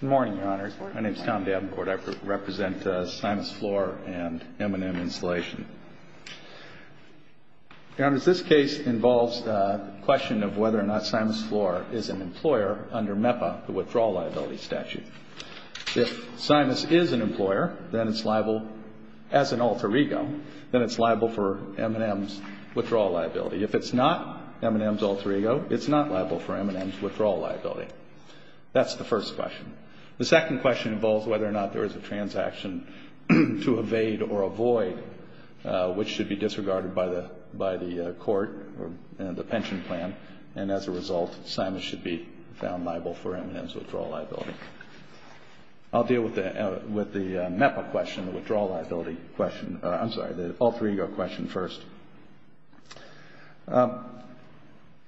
Good morning, Your Honors. My name is Tom Davenport. I represent Simus Floor and M&M Installation. Your Honors, this case involves the question of whether or not Simus Floor is an employer under MEPA, the Withdrawal Liability Statute. If Simus is an employer, then it's liable, as an alter ego, then it's liable for M&M's withdrawal liability. If it's not M&M's alter ego, it's not liable for M&M's withdrawal liability. That's the first question. The second question involves whether or not there is a transaction to evade or avoid, which should be disregarded by the court or the pension plan. And as a result, Simus should be found liable for M&M's withdrawal liability. I'll deal with the MEPA question, the Withdrawal Liability question. I'm sorry, the alter ego question first.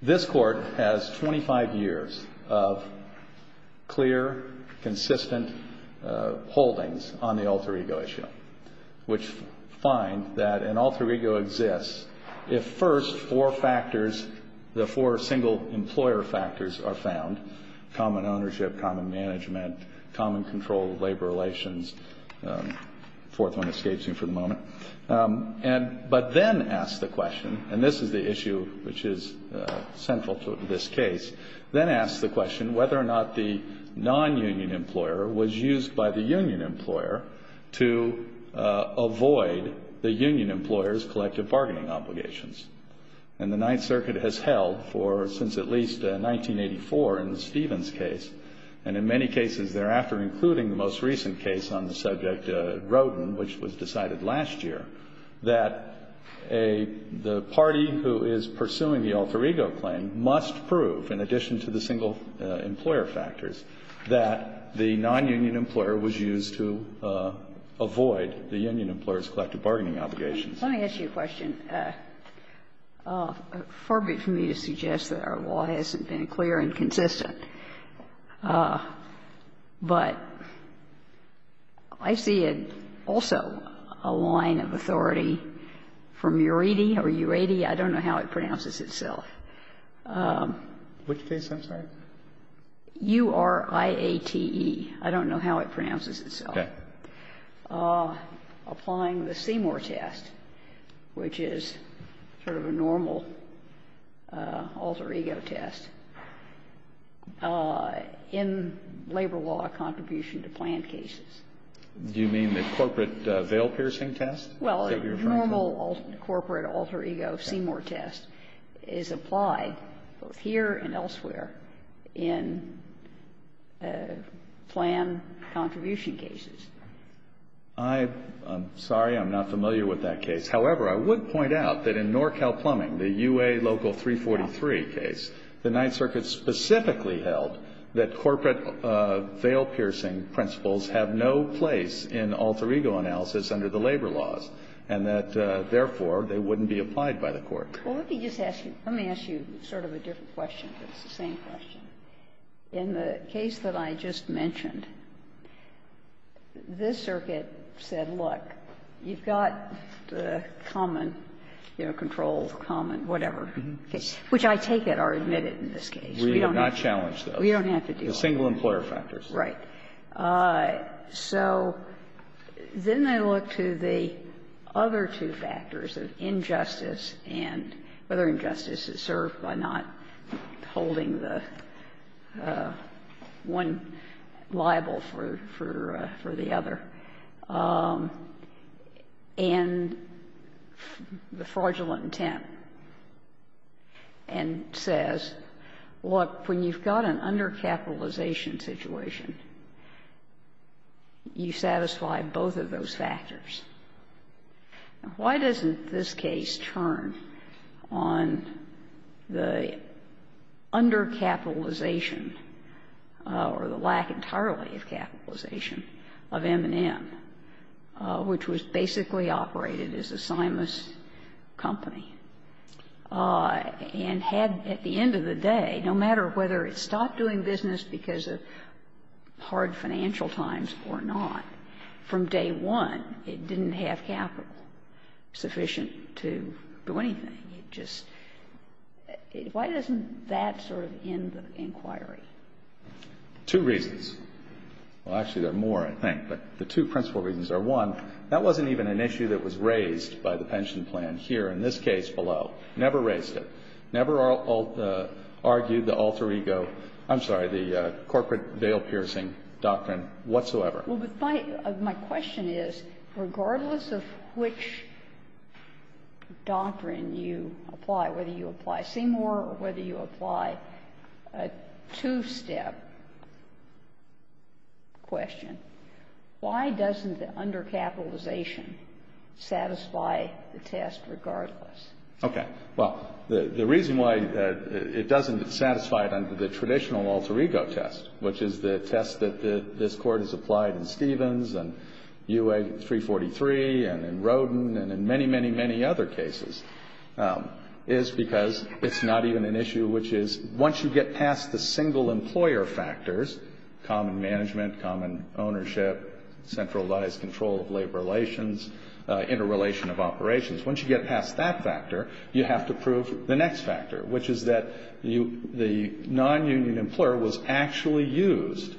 This Court has 25 years of clear, consistent holdings on the alter ego issue, which find that an alter ego exists if first four factors, the four single employer factors are found, common ownership, common management, common control of labor relations. The fourth one escapes me for the moment. But then ask the question, and this is the issue which is central to this case, then ask the question whether or not the non-union employer was used by the union employer to avoid the union employer's collective bargaining obligations. And the Ninth Circuit has held for since at least 1984 in the Stevens case, and in many cases thereafter, including the most recent case on the subject, Rodin, which was decided last year, that the party who is pursuing the alter ego claim must prove, in addition to the single employer factors, that the non-union employer was used to avoid the union employer's collective bargaining obligations. Let me ask you a question. Far be it for me to suggest that our law hasn't been clear and consistent. But I see also a line of authority from Uridi, or U-A-D, I don't know how it pronounces itself. Which case, I'm sorry? U-R-I-A-T-E. I don't know how it pronounces itself. Okay. Applying the Seymour test, which is sort of a normal alter ego test, in labor law contribution to planned cases. Do you mean the corporate veil-piercing test? Well, a normal corporate alter ego, Seymour test, is applied both here and elsewhere in planned contribution cases. I'm sorry, I'm not familiar with that case. However, I would point out that in NorCal Plumbing, the U-A Local 343 case, the Ninth Circuit specifically held that corporate veil-piercing principles have no place in alter ego analysis under the labor laws, and that, therefore, they wouldn't be applied by the Court. Well, let me just ask you, let me ask you sort of a different question, but it's the same question. In the case that I just mentioned, this circuit said, look, you've got the common, you know, control, common, whatever case, which I take it are admitted in this case. We don't have to deal with them. We do not challenge those. The single employer factors. Right. So then they look to the other two factors of injustice and whether injustice is served by not holding the one liable for the other, and the fraudulent intent, and says, look, when you've got an undercapitalization situation, you satisfy both of those factors. Why doesn't this case turn on the undercapitalization or the lack entirely of capitalization of M&M, which was basically operated as a signless company, and had at the end of the day, no matter whether it stopped doing business because of hard financial times or not, from day one, it didn't have capital sufficient to do anything? It just why doesn't that sort of end the inquiry? Two reasons. Well, actually, there are more, I think. But the two principal reasons are, one, that wasn't even an issue that was raised by the pension plan here, in this case, below. Never raised it. Never argued the alter ego – I'm sorry, the corporate veil-piercing doctrine whatsoever. Well, but my question is, regardless of which doctrine you apply, whether you apply Seymour or whether you apply a two-step question, why doesn't the undercapitalization satisfy the test regardless? Okay. Well, the reason why it doesn't satisfy it under the traditional alter ego test, which is the test that this Court has applied in Stevens and UA 343 and in Rodin and in many, many, many other cases, is because it's not even an issue which is, once you get past the single employer factors, common management, common ownership, centralized control of labor relations, interrelation of operations, once you get past that factor, you have to prove the next factor, which is that the non-union employer was actually used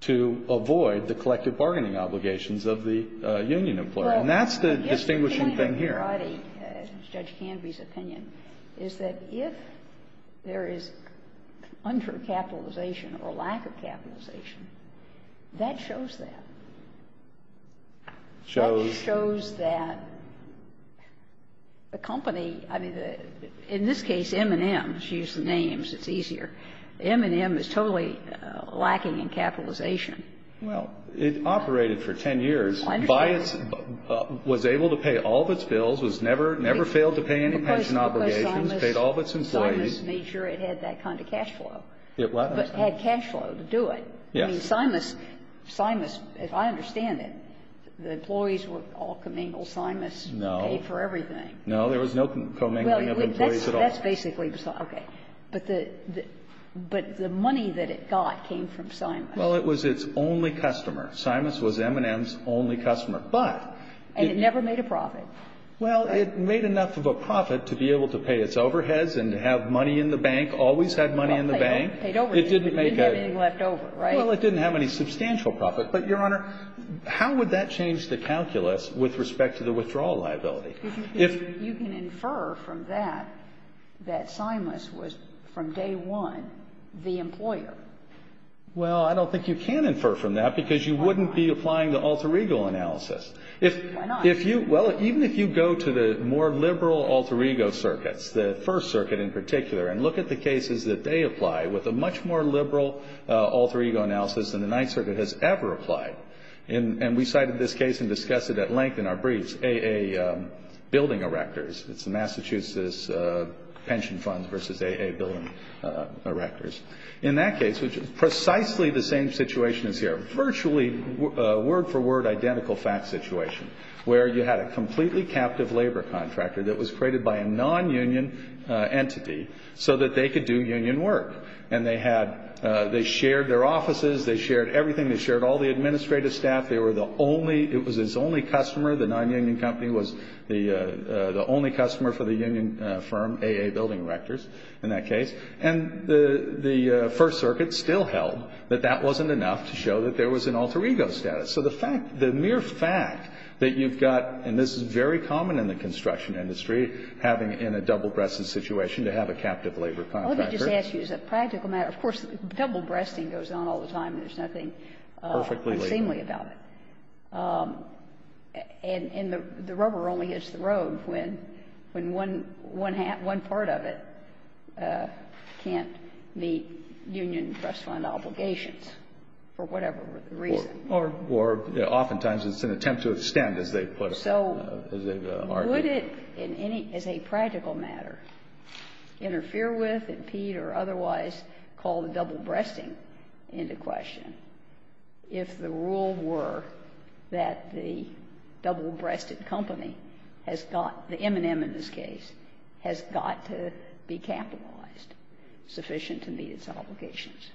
to avoid the collective bargaining obligations of the union employer. And that's the distinguishing thing here. Well, I guess the point here, Audie, in Judge Canvey's opinion, is that if there is undercapitalization or lack of capitalization, that shows that. Shows? Shows that a company, I mean, in this case, M&M, to use the names, it's easier. M&M is totally lacking in capitalization. Well, it operated for 10 years. I understand. By its ---- was able to pay all of its bills, was never, never failed to pay any pension obligations, paid all of its employees. Because Simus made sure it had that kind of cash flow. It was. But had cash flow to do it. Yes. I mean, Simus, Simus, if I understand it, the employees were all commingled. Simus paid for everything. No, there was no commingling of employees at all. Well, that's basically the ---- okay. But the money that it got came from Simus. Well, it was its only customer. Simus was M&M's only customer. But it never made a profit. Well, it made enough of a profit to be able to pay its overheads and to have money in the bank, always had money in the bank. It didn't make a ---- It didn't have anything left over, right? Well, it didn't have any substantial profit. But, Your Honor, how would that change the calculus with respect to the withdrawal liability? If you can infer from that that Simus was, from day one, the employer. Well, I don't think you can infer from that because you wouldn't be applying the alter ego analysis. Why not? Well, even if you go to the more liberal alter ego circuits, the First Circuit in particular, and look at the cases that they apply with a much more liberal alter ego analysis than the Ninth Circuit has ever applied. And we cited this case and discussed it at length in our briefs, AA building erectors. It's the Massachusetts pension funds versus AA building erectors. In that case, which is precisely the same situation as here, virtually word for word identical fact situation, where you had a completely captive labor contractor that was created by a non-union entity so that they could do union work. And they shared their offices. They shared everything. They shared all the administrative staff. It was its only customer. The non-union company was the only customer for the union firm, AA building erectors, in that case. And the First Circuit still held that that wasn't enough to show that there was an alter ego status. So the mere fact that you've got, and this is very common in the construction industry, having in a double-breasted situation to have a captive labor contractor. Well, let me just ask you, as a practical matter, of course, double-breasting goes on all the time. There's nothing unseemly about it. And the rubber only hits the road when one part of it can't meet union trust fund obligations for whatever reason. Or oftentimes it's an attempt to extend, as they put it, as they've argued. Would it, as a practical matter, interfere with, impede, or otherwise call the double-breasting into question if the rule were that the double-breasted company has got, the M&M in this case, has got to be capitalized sufficient to meet its obligations?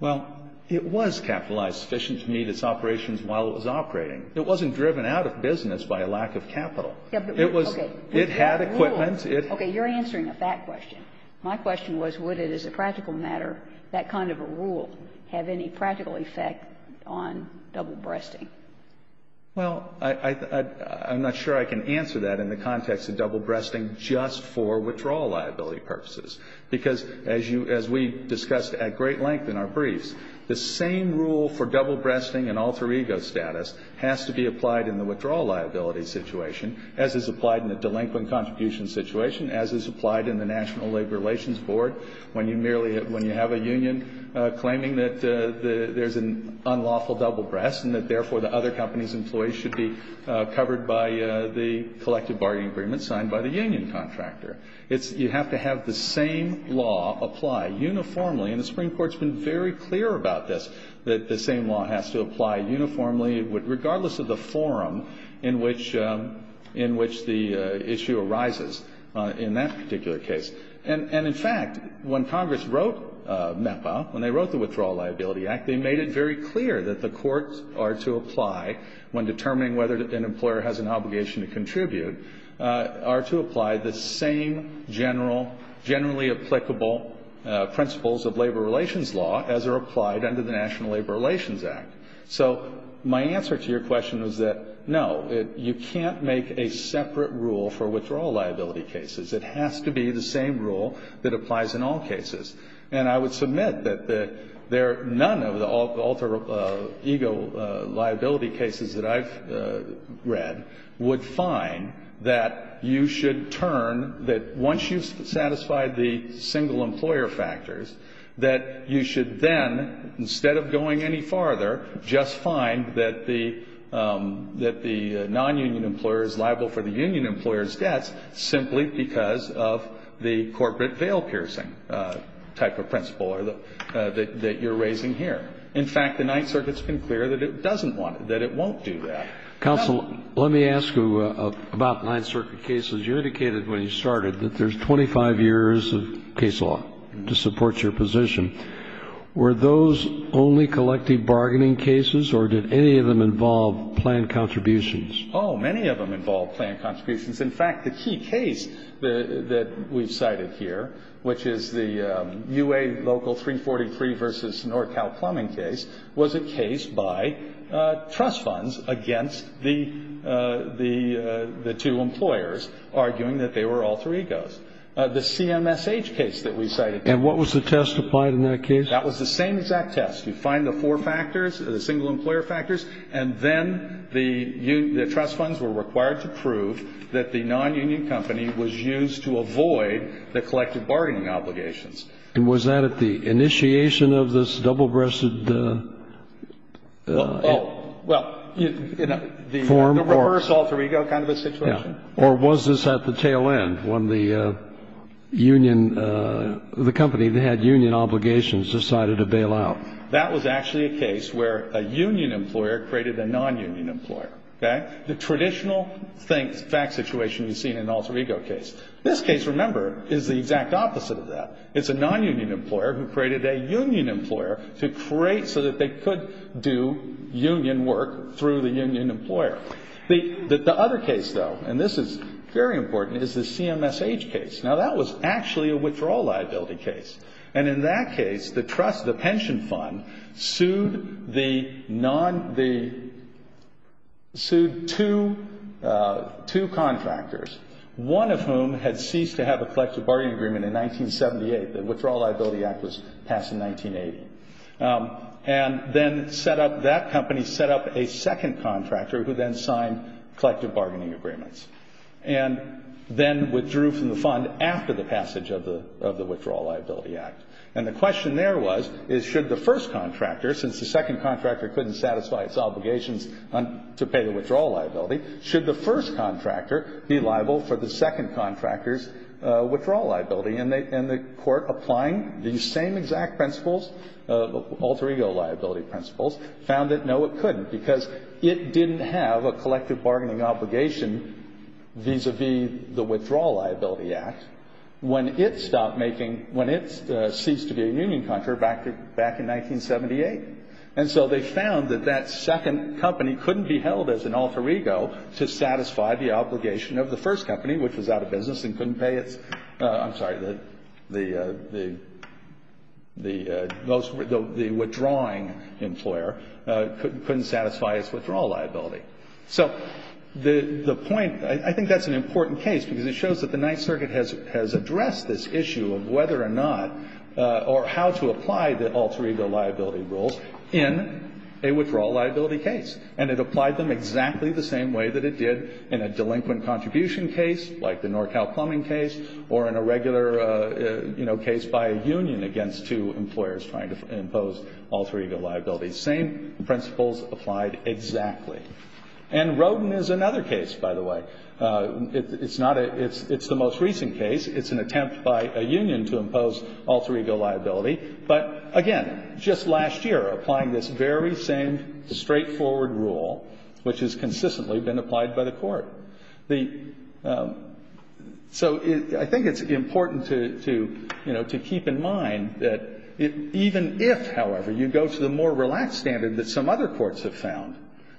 Well, it was capitalized sufficient to meet its operations while it was operating. It wasn't driven out of business by a lack of capital. It was – it had equipment. Okay. You're answering a fact question. My question was, would it, as a practical matter, that kind of a rule, have any practical effect on double-breasting? Well, I'm not sure I can answer that in the context of double-breasting just for withdrawal liability purposes. Because as you – as we discussed at great length in our briefs, the same rule for double-breasting and alter ego status has to be applied in the withdrawal liability situation, as is applied in the delinquent contribution situation, as is applied in the National Labor Relations Board, when you merely – when you have a union claiming that there's an unlawful double-breast and that, therefore, the other company's employees should be covered by the collective bargaining agreement signed by the union contractor. It's – you have to have the same law apply uniformly, and the Supreme Court's been very clear about this, that the same law has to apply uniformly regardless of the forum in which – in which the issue arises in that particular case. And in fact, when Congress wrote MEPA, when they wrote the Withdrawal Liability Act, they made it very clear that the courts are to apply, when determining whether an employer has an obligation to contribute, are to apply the same general – generally applicable principles of labor relations law as are applied under the National Labor Relations Act. So my answer to your question was that, no, it – you can't make a separate rule for withdrawal liability cases. It has to be the same rule that applies in all cases. And I would submit that the – there – none of the alter ego liability cases that I've read would find that you should turn – that once you've satisfied the single employer factors, that you should then, instead of going any farther, just find that the – that the non-union employer is liable for the union employer's debts simply because of the corporate veil-piercing type of principle or the – that you're raising here. In fact, the Ninth Circuit's been clear that it doesn't want – that it won't do that. Counsel, let me ask you about Ninth Circuit cases. You indicated when you started that there's 25 years of case law to support your position. Were those only collective bargaining cases, or did any of them involve planned contributions? Oh, many of them involved planned contributions. In fact, the key case that we've cited here, which is the UA Local 343 v. NorCal Plumbing case, was a case by trust funds against the two employers, or the two unions. Arguing that they were alter egos. The CMSH case that we cited there. And what was the test applied in that case? That was the same exact test. You find the four factors, the single employer factors, and then the trust funds were required to prove that the non-union company was used to avoid the collective bargaining obligations. And was that at the initiation of this double-breasted – Well, you know, the reverse alter ego kind of a situation. Or was this at the tail end, when the union – the company that had union obligations decided to bail out? That was actually a case where a union employer created a non-union employer, okay? The traditional fact situation you see in an alter ego case. This case, remember, is the exact opposite of that. It's a non-union employer who created a union employer to create – so that they could do union work through the union employer. The other case, though, and this is very important, is the CMSH case. Now, that was actually a withdrawal liability case. And in that case, the trust, the pension fund, sued the non – the – sued two contractors, one of whom had ceased to have a collective bargaining agreement in 1978. The Withdrawal Liability Act was passed in 1980. And then set up – that company set up a second contractor who then signed collective bargaining agreements. And then withdrew from the fund after the passage of the Withdrawal Liability Act. And the question there was, is should the first contractor, since the second contractor couldn't satisfy its obligations to pay the withdrawal liability, should the first contractor be liable for the second contractor's withdrawal liability? And the court, applying these same exact principles, alter ego liability principles, found that no, it couldn't because it didn't have a collective bargaining obligation vis-a-vis the Withdrawal Liability Act when it stopped making – when it ceased to be a union contractor back in 1978. And so they found that that second company couldn't be held as an alter ego to satisfy the obligation of the first company, which was out of business and couldn't pay its – I'm sorry, the withdrawing employer couldn't satisfy its withdrawal liability. So the point – I think that's an important case because it shows that the Ninth Circuit has addressed this issue of whether or not – or how to apply the alter ego liability rules in a withdrawal liability case. And it applied them exactly the same way that it did in a delinquent contribution case, like the NorCal plumbing case, or in a regular, you know, case by a union against two employers trying to impose alter ego liability. Same principles applied exactly. And Rodin is another case, by the way. It's not a – it's the most recent case. It's an attempt by a union to impose alter ego liability. But again, just last year, applying this very same straightforward rule, which has consistently been applied by the court. The – so I think it's important to, you know, to keep in mind that even if, however, you go to the more relaxed standard that some other courts have found,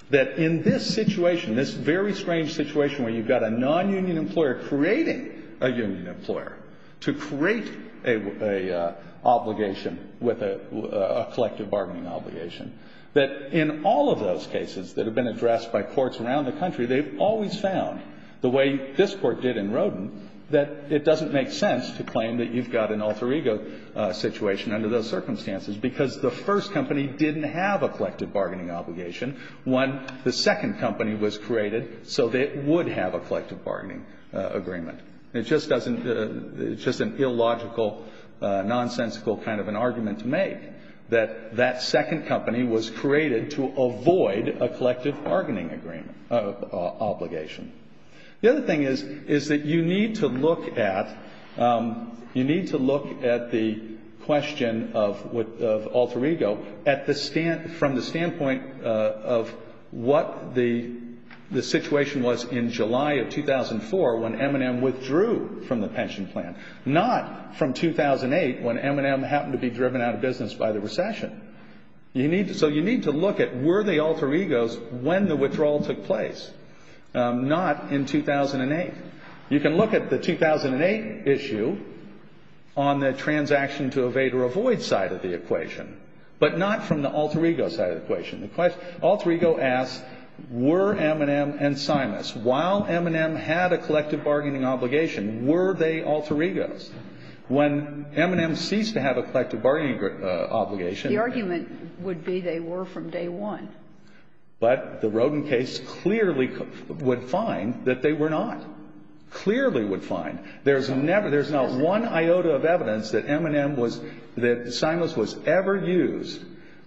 that in this situation, this very strange situation where you've got a non-union employer creating a union employer to create a obligation with a collective bargaining obligation, that in all of those cases that have been addressed by courts around the country, they've always found the way this Court did in Rodin that it doesn't make sense to claim that you've got an alter ego situation under those circumstances because the first company didn't have a collective bargaining obligation when the second company was created so that it would have a collective bargaining agreement. It just doesn't – it's just an illogical, nonsensical kind of an argument to make that that second company was created to avoid a collective bargaining agreement obligation. The other thing is, is that you need to look at – you need to look at the question of alter ego at the – from the standpoint of what the situation was in July of 2004 when M&M withdrew from the pension plan, not from 2008 when M&M happened to be driven out of business by the recession. You need – so you need to look at were they alter egos when the withdrawal took place, not in 2008. You can look at the 2008 issue on the transaction to evade or avoid side of the equation, but not from the alter ego side of the equation. The question – alter ego asks, were M&M and Simus, while M&M had a collective bargaining obligation, were they alter egos? When M&M ceased to have a collective bargaining obligation – The argument would be they were from day one. But the Roden case clearly would find that they were not. Clearly would find. There's never – there's not one iota of evidence that M&M was – that Simus was ever used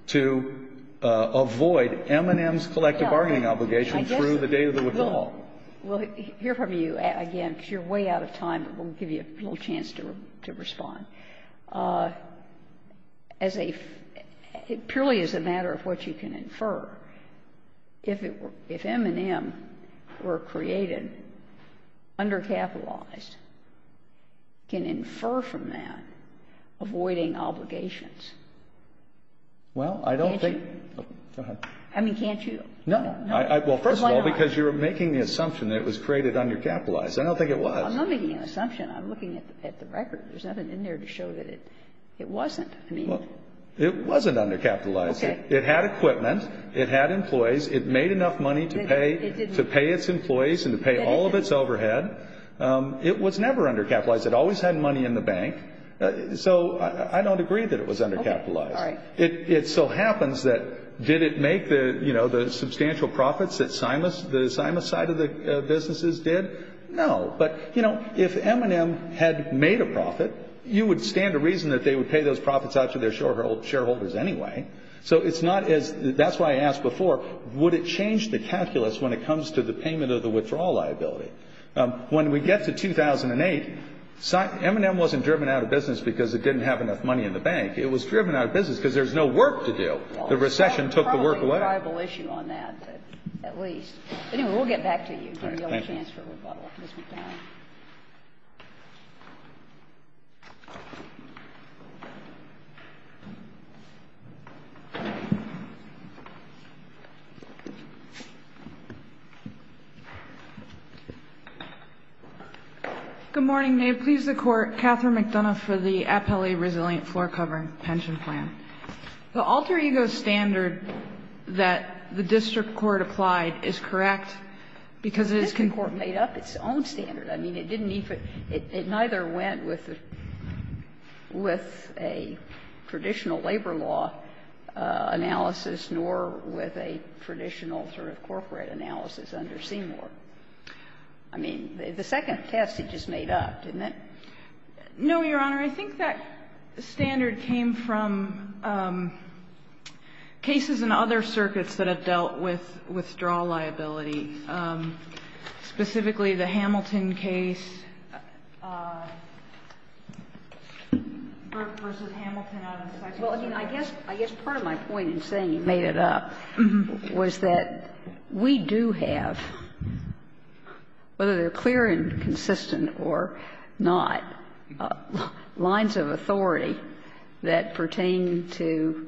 to avoid M&M's collective bargaining obligation through the day of the withdrawal. Well, here from you, again, because you're way out of time, but we'll give you a little chance to respond. As a – purely as a matter of what you can infer, if M&M were created undercapitalized, you can infer from that avoiding obligations. Well, I don't think – Can't you? Go ahead. I mean, can't you? Well, first of all, because you're making the assumption that it was created undercapitalized. I don't think it was. I'm not making an assumption. I'm looking at the record. There's nothing in there to show that it wasn't. I mean – Well, it wasn't undercapitalized. Okay. It had equipment. It had employees. It made enough money to pay – It didn't. To pay its employees and to pay all of its overhead. It was never undercapitalized. It always had money in the bank. So I don't agree that it was undercapitalized. Okay. All right. It so happens that did it make the substantial profits that the Simus side of the businesses did? No. But, you know, if M&M had made a profit, you would stand to reason that they would pay those profits out to their shareholders anyway. So it's not as – That's why I asked before, would it change the calculus when it comes to the payment of the withdrawal liability? When we get to 2008, M&M wasn't driven out of business because it didn't have enough money in the bank. It was driven out of business because there was no work to do. The recession took the work away. Well, it's probably a tribal issue on that, at least. Anyway, we'll get back to you. All right. Thank you. Give me another chance for rebuttal. Ms. McDonough. Good morning. May it please the Court. Catherine McDonough for the Appellee Resilient Floor Covering Pension Plan. The alter-ego standard that the district court applied is correct because it is concerned that the district court made up its own standard. I mean, it didn't even – it neither went with a traditional labor law analysis nor with a traditional sort of corporate analysis under Seymour. I mean, the second test it just made up, didn't it? No, Your Honor. I think that standard came from cases in other circuits that have dealt with withdrawal liability, specifically the Hamilton case, Burke v. Hamilton out of Seymour. Well, I guess part of my point in saying it made it up was that we do have, whether they're clear and consistent or not, lines of authority that pertain to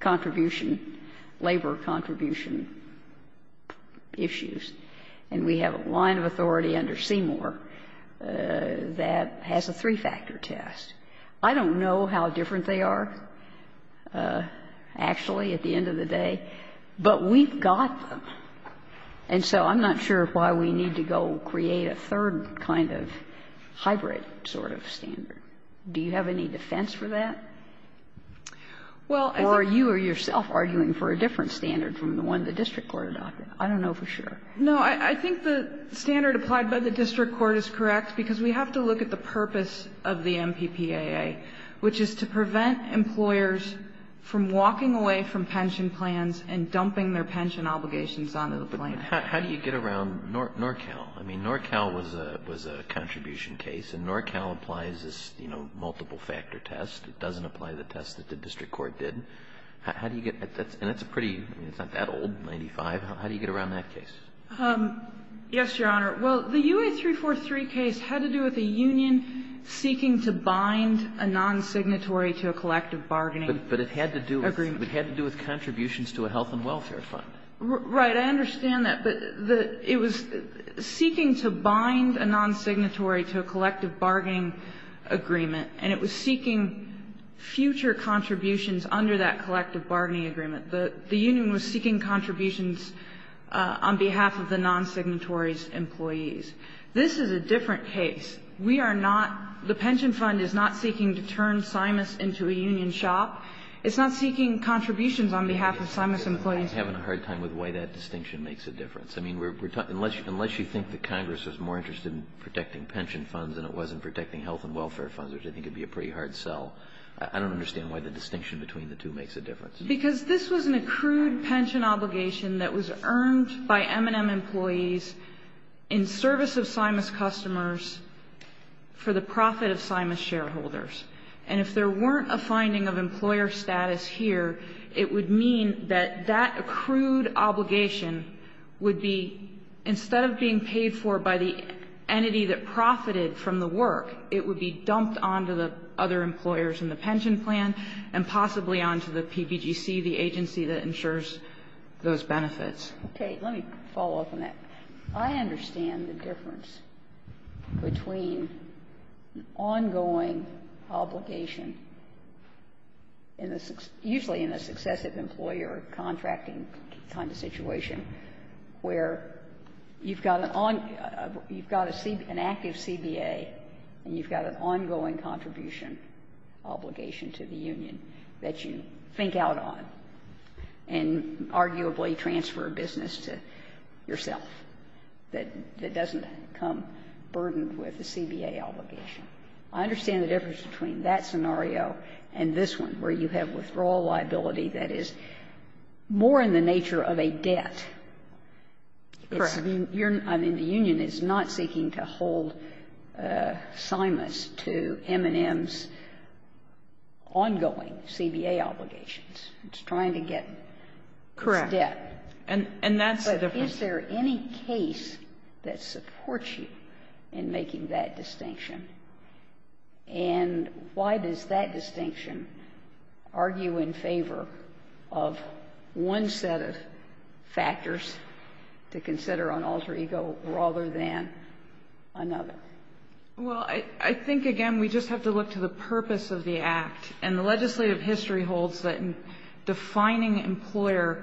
contribution, labor contribution issues. And we have a line of authority under Seymour that has a three-factor test. I don't know how different they are actually at the end of the day, but we've got them. And so I'm not sure why we need to go create a third kind of hybrid sort of standard. Do you have any defense for that? Or are you or yourself arguing for a different standard from the one the district court adopted? I don't know for sure. No, I think the standard applied by the district court is correct because we have to look at the purpose of the MPPAA, which is to prevent employers from walking away from pension plans and dumping their pension obligations onto the plan. But how do you get around NorCal? I mean, NorCal was a contribution case. And NorCal applies this, you know, multiple-factor test. It doesn't apply the test that the district court did. How do you get at that? And that's a pretty, I mean, it's not that old, 95. How do you get around that case? Yes, Your Honor. Well, the U.S. 343 case had to do with a union seeking to bind a nonsignatory to a collective bargaining agreement. But it had to do with contributions to a health and welfare fund. Right. I understand that. But it was seeking to bind a nonsignatory to a collective bargaining agreement. And it was seeking future contributions under that collective bargaining agreement. The union was seeking contributions on behalf of the nonsignatory's employees. This is a different case. We are not the pension fund is not seeking to turn Simus into a union shop. It's not seeking contributions on behalf of Simus employees. I'm having a hard time with why that distinction makes a difference. I mean, unless you think that Congress was more interested in protecting pension funds than it was in protecting health and welfare funds, which I think would be a pretty hard sell, I don't understand why the distinction between the two makes a difference. Because this was an accrued pension obligation that was earned by M&M employees in service of Simus customers for the profit of Simus shareholders. And if there weren't a finding of employer status here, it would mean that that accrued obligation would be, instead of being paid for by the entity that profited from the work, it would be dumped onto the other employers in the pension plan and possibly onto the PBGC, the agency that insures those benefits. Okay. Let me follow up on that. I understand the difference between ongoing obligation in the usually in a successive employer contracting kind of situation where you've got an active CBA and you've got a CBA obligation to the union that you think out on and arguably transfer business to yourself that doesn't become burdened with a CBA obligation. I understand the difference between that scenario and this one, where you have withdrawal liability that is more in the nature of a debt. Correct. I mean, the union is not seeking to hold Simus to M&M's employees. It's trying to get its debt. Correct. And that's the difference. But is there any case that supports you in making that distinction? And why does that distinction argue in favor of one set of factors to consider on alter ego rather than another? Well, I think, again, we just have to look to the purpose of the act. And the legislative history holds that in defining employer,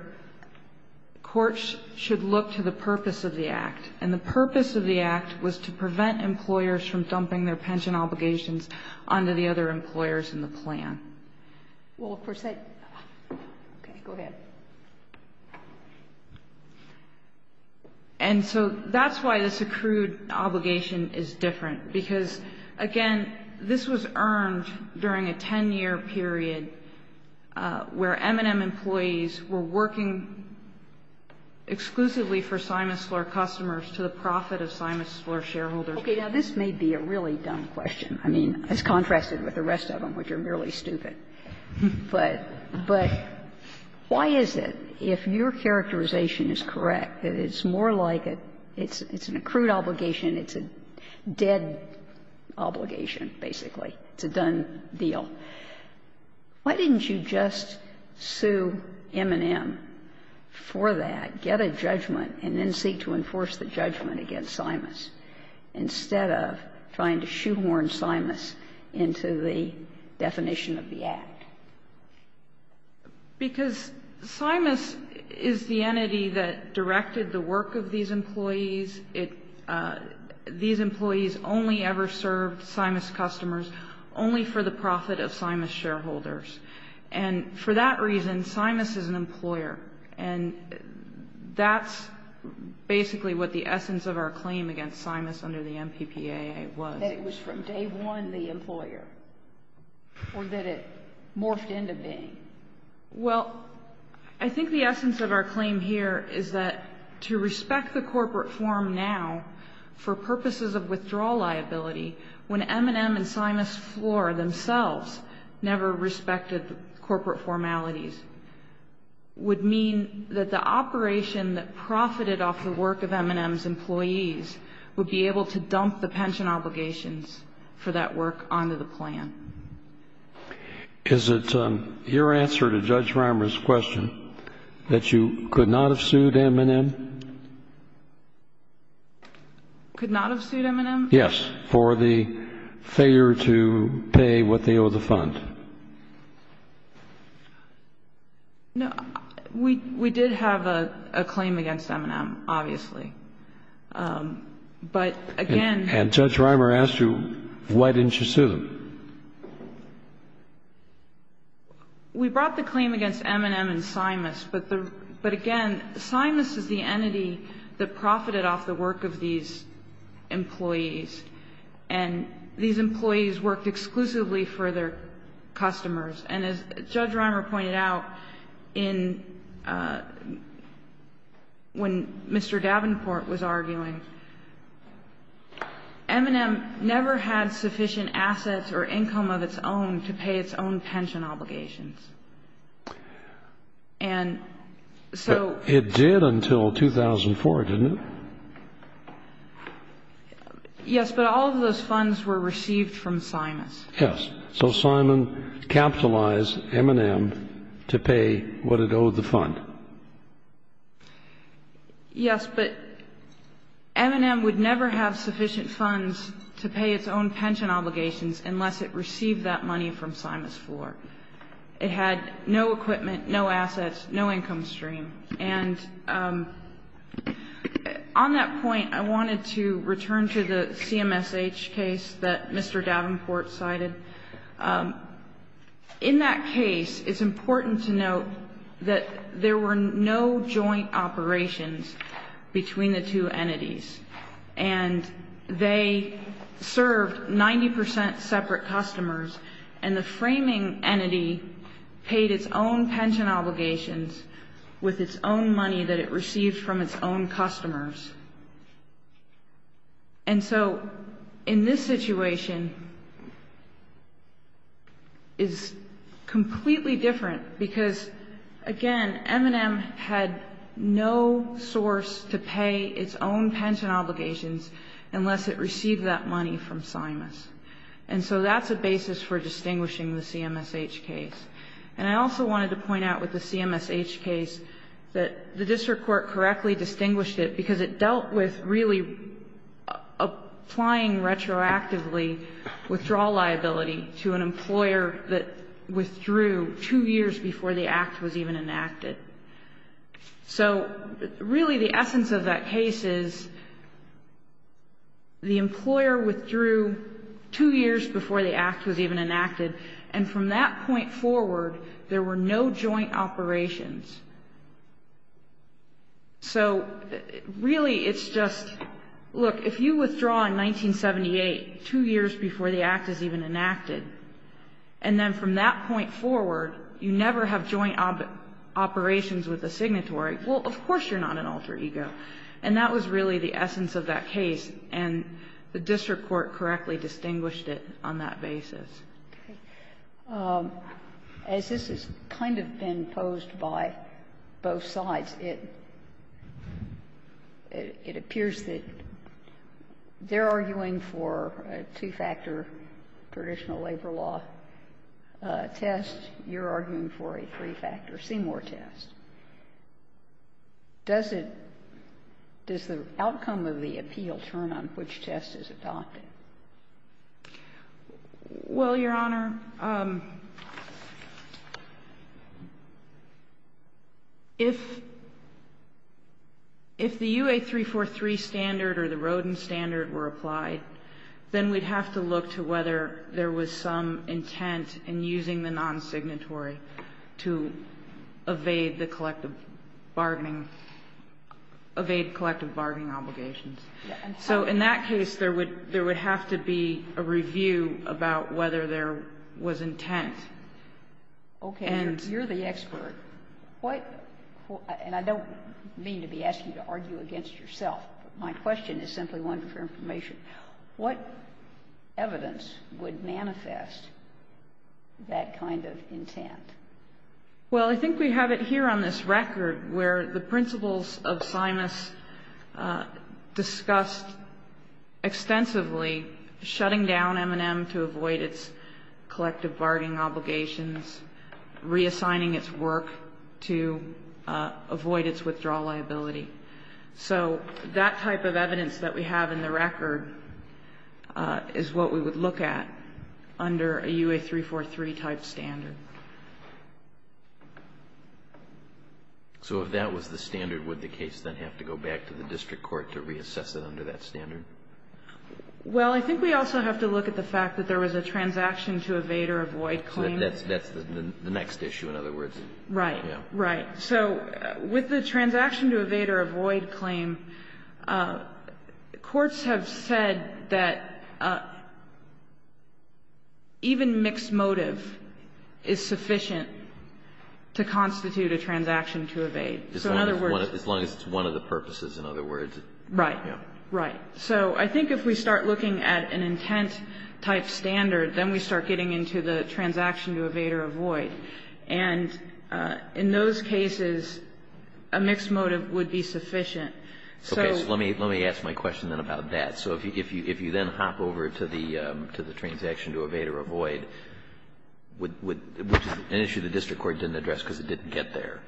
courts should look to the purpose of the act. And the purpose of the act was to prevent employers from dumping their pension obligations onto the other employers in the plan. Well, of course, I... Okay. Go ahead. And so that's why this accrued obligation is different. Because, again, this was earned during a 10-year period where M&M employees were working exclusively for Simus Floor customers to the profit of Simus Floor shareholders. Okay. Now, this may be a really dumb question. I mean, it's contrasted with the rest of them, which are merely stupid. But why is it, if your characterization is correct, that it's more like it's an accrued obligation, it's a dead obligation, basically? It's a done deal. Why didn't you just sue M&M for that, get a judgment, and then seek to enforce the judgment against Simus, instead of trying to shoehorn Simus into the definition of the act? Because Simus is the entity that directed the work of these employees. These employees only ever served Simus customers only for the profit of Simus shareholders. And for that reason, Simus is an employer. And that's basically what the essence of our claim against Simus under the MPPAA was. So you're saying that it was from day one, the employer, or that it morphed into being? Well, I think the essence of our claim here is that to respect the corporate form now, for purposes of withdrawal liability, when M&M and Simus Floor themselves never respected corporate formalities, would mean that the operation that M&M and Simus Floor undertook, would mean that M&M and Simus Floor would be subject to the same obligations for that work onto the plan. Is it your answer to Judge Reimer's question that you could not have sued M&M? Could not have sued M&M? Yes. For the failure to pay what they owe the fund. No. We did have a claim against M&M, obviously. But again... And Judge Reimer asked you, why didn't you sue them? We brought the claim against M&M and Simus. But again, Simus is the entity that profited off the work of these employees. And these employees worked exclusively for their customers. And as Judge Reimer pointed out, when Mr. Davenport was arguing, M&M never had sufficient assets or income of its own to pay its own pension obligations. And so... It did until 2004, didn't it? Yes, but all of those funds were received from Simus. Yes. So Simon capitalized M&M to pay what it owed the fund. Yes, but M&M would never have sufficient funds to pay its own pension obligations unless it received that money from Simus Floor. It had no equipment, no assets, no income stream. And on that point, I wanted to return to the CMSH case that Mr. Davenport cited. In that case, it's important to note that there were no joint operations between the two entities. And they served 90% separate customers. And the framing entity paid its own pension obligations with its own money that it received from its own customers. And so, in this situation, it's completely different because, again, M&M had no source to pay its own pension obligations unless it received that money from Simus. And so that's a basis for distinguishing the CMSH case. And I also wanted to point out with the CMSH case that the district court correctly distinguished it because it dealt with really applying retroactively withdrawal liability to an employer that withdrew two years before the act was even enacted. So, really, the essence of that case is the employer withdrew two years before the act was even enacted and from that point forward, there were no joint operations. So, really, it's just, look, if you withdraw in 1978, two years before the act is even enacted, and then from that point forward, you never have joint operations with the signatory, well, of course you're not an alter ego. And that was really the essence of that case. And the district court correctly distinguished it on that basis. Okay. As this has kind of been posed by both sides, it appears that they're arguing for a two-factor traditional labor law test. You're arguing for a three-factor C-more test. Does it — does the outcome of the appeal turn on which test is adopted? Well, Your Honor, if the UA343 standard or the Rodin standard were applied, then we'd have to look to whether there was some intent in using the non-signatory to evade the collective bargaining — evade collective bargaining obligations. So in that case, there would have to be a review about whether there was intent. Okay. And you're the expert. What — and I don't mean to be asking you to argue against yourself. My question is simply one for information. What evidence would manifest that kind of intent? Well, I think we have it here on this record where the principles of Simas discussed extensively shutting down M&M to avoid its collective bargaining obligations, reassigning its work to avoid its withdrawal liability. So that type of evidence that we have in the record is what we would look at under a UA343-type standard. So if that was the standard, would the case then have to go back to the district court to reassess it under that standard? Well, I think we also have to look at the fact that there was a transaction to evade or avoid claim. That's the next issue, in other words. Right. Right. So with the transaction to evade or avoid claim, courts have said that even mixed motive is sufficient to constitute a transaction to evade. So in other words — As long as it's one of the purposes, in other words. Right. Right. So I think if we start looking at an intent-type standard, then we start getting into the transaction to evade or avoid. And in those cases, a mixed motive would be sufficient. Okay. So let me ask my question then about that. So if you then hop over to the transaction to evade or avoid, which is an issue the district court didn't address because it didn't get there,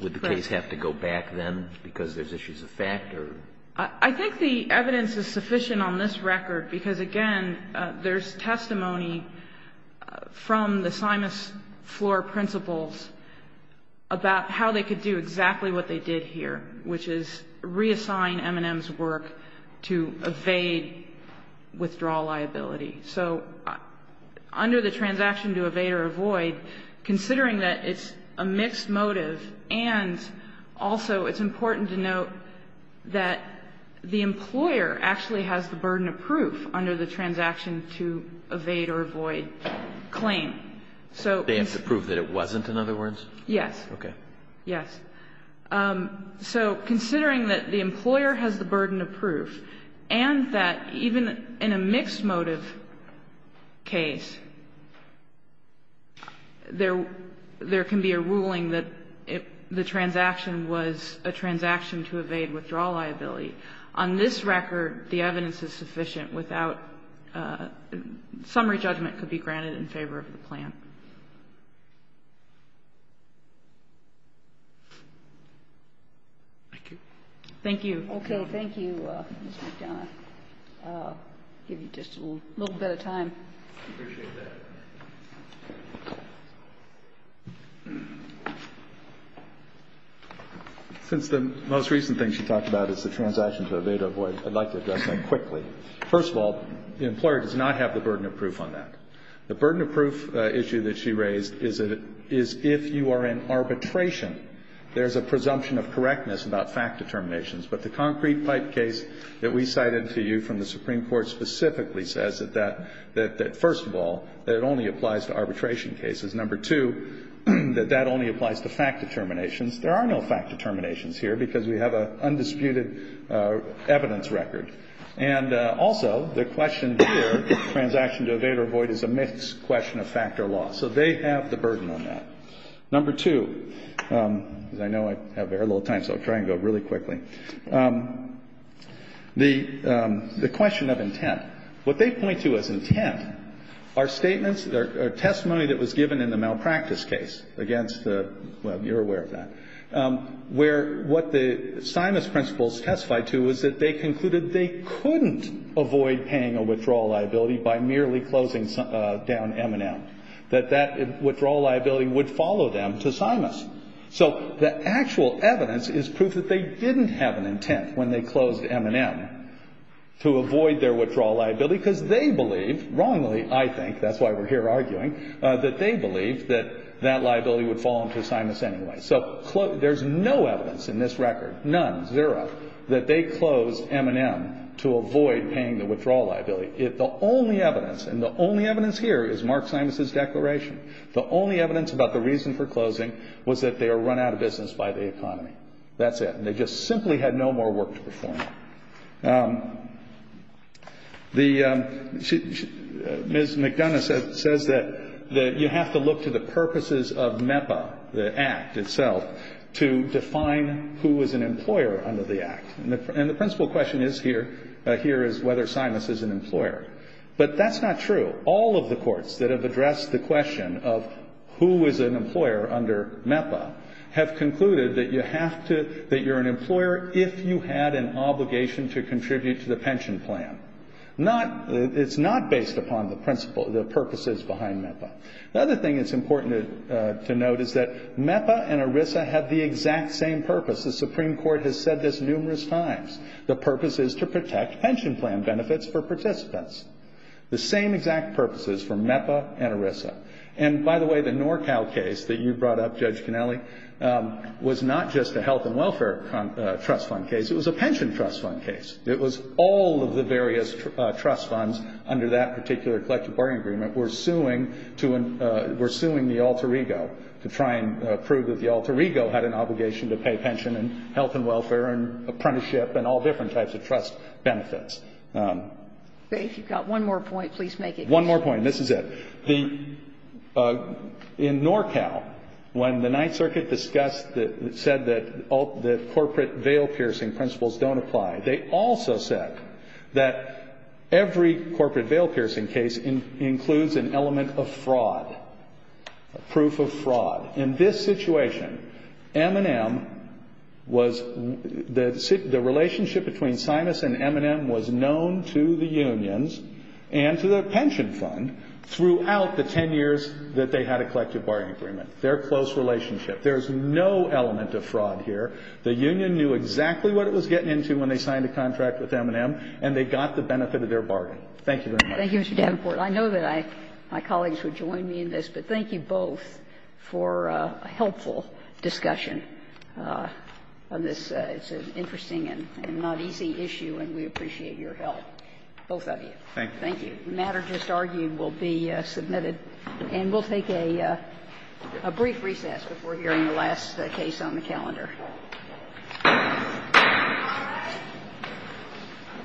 would the case have to go back then because there's issues of fact or? I think the evidence is sufficient on this record because, again, there's testimony from the Simas floor principals about how they could do exactly what they did here, which is reassign M&M's work to evade withdrawal liability. So under the transaction to evade or avoid, considering that it's a mixed motive and also it's important to note that the employer actually has the burden of proof under the transaction to evade or avoid claim. They have to prove that it wasn't, in other words? Yes. Okay. Yes. So considering that the employer has the burden of proof and that even in a mixed motive case, there can be a ruling that the transaction was a transaction to evade or avoid, that the employer could be granted a summary judgment in favor of the plan? Thank you. Thank you. Okay. Thank you, Mr. McDonough. I'll give you just a little bit of time. I appreciate that. Since the most recent thing she talked about is the transaction to evade or avoid, I'd like to address that quickly. First of all, the employer does not have the burden of proof on that. The burden of proof issue that she raised is if you are in arbitration, there's a presumption of correctness about fact determinations, but the concrete pipe case that we cited to you from the Supreme Court specifically says that first of all, that it only applies to arbitration cases. Number two, that that only applies to fact determinations. There are no fact determinations here because we have an undisputed evidence record. And also, the question here, transaction to evade or avoid, is a mixed question of fact or law. So they have the burden on that. Number two, because I know I have very little time, so I'll try and go really quickly. The question of intent. What they point to as intent are statements or testimony that was given in the malpractice case against the, well, you're aware of that, where what the Simas principles testified to is that they concluded they couldn't avoid paying a withdrawal liability by merely closing down M&M. That that withdrawal liability would follow them to Simas. So the actual evidence is proof that they didn't have an intent when they closed M&M to avoid their withdrawal liability because they believe, wrongly I think, that's why we're here arguing, that they believe that that liability would fall into Simas anyway. So there's no evidence in this record, none, zero, that they closed M&M to avoid paying the withdrawal liability. The only evidence, and the only evidence here is Mark Simas' declaration. The only evidence about the reason for closing was that they were run out of business by the economy. That's it. And they just simply had no more work to perform. The, Ms. McDonough says that you have to look to the purposes of MEPA, the Act itself, to define who is an employer under the Act. And the principle question is here, here is whether Simas is an employer. But that's not true. All of the courts that have addressed the question of who is an employer under MEPA have concluded that you have to, that you're an employer if you had an obligation to contribute to the pension plan. Not, it's not based upon the principle, the purposes behind MEPA. The other thing that's important to note is that MEPA and ERISA have the exact same purpose. The Supreme Court has said this numerous times. The purpose is to protect pension plan benefits for participants. The same exact purpose is for MEPA and ERISA. And, by the way, the NorCal case that you brought up, Judge Kennelly, was not just a health and welfare trust fund case. It was a pension trust fund case. It was all of the various trust funds under that particular collective bargaining agreement were suing to, were suing the alter ego to try and prove that the alter ego had an obligation to pay pension and health and welfare and apprenticeship and all different types of trust benefits. If you've got one more point, please make it. One more point. This is it. In NorCal, when the Ninth Circuit discussed, said that corporate veil piercing principles don't apply, they also said that every corporate veil piercing case includes an element of fraud, proof of fraud. In this situation, M&M was, the relationship between Simus and M&M was known to the unions and to the pension fund throughout the 10 years that they had a collective bargaining agreement. Their close relationship. There's no element of fraud here. The union knew exactly what it was getting into when they signed a contract with M&M, and they got the benefit of their bargain. Thank you very much. Thank you, Mr. Davenport. I know that I, my colleagues would join me in this, but thank you both for a helpful discussion on this. It's an interesting and not easy issue, and we appreciate your help. Both of you. Thank you. Thank you. The matter just argued will be submitted, and we'll take a brief recess before hearing the last case on the calendar.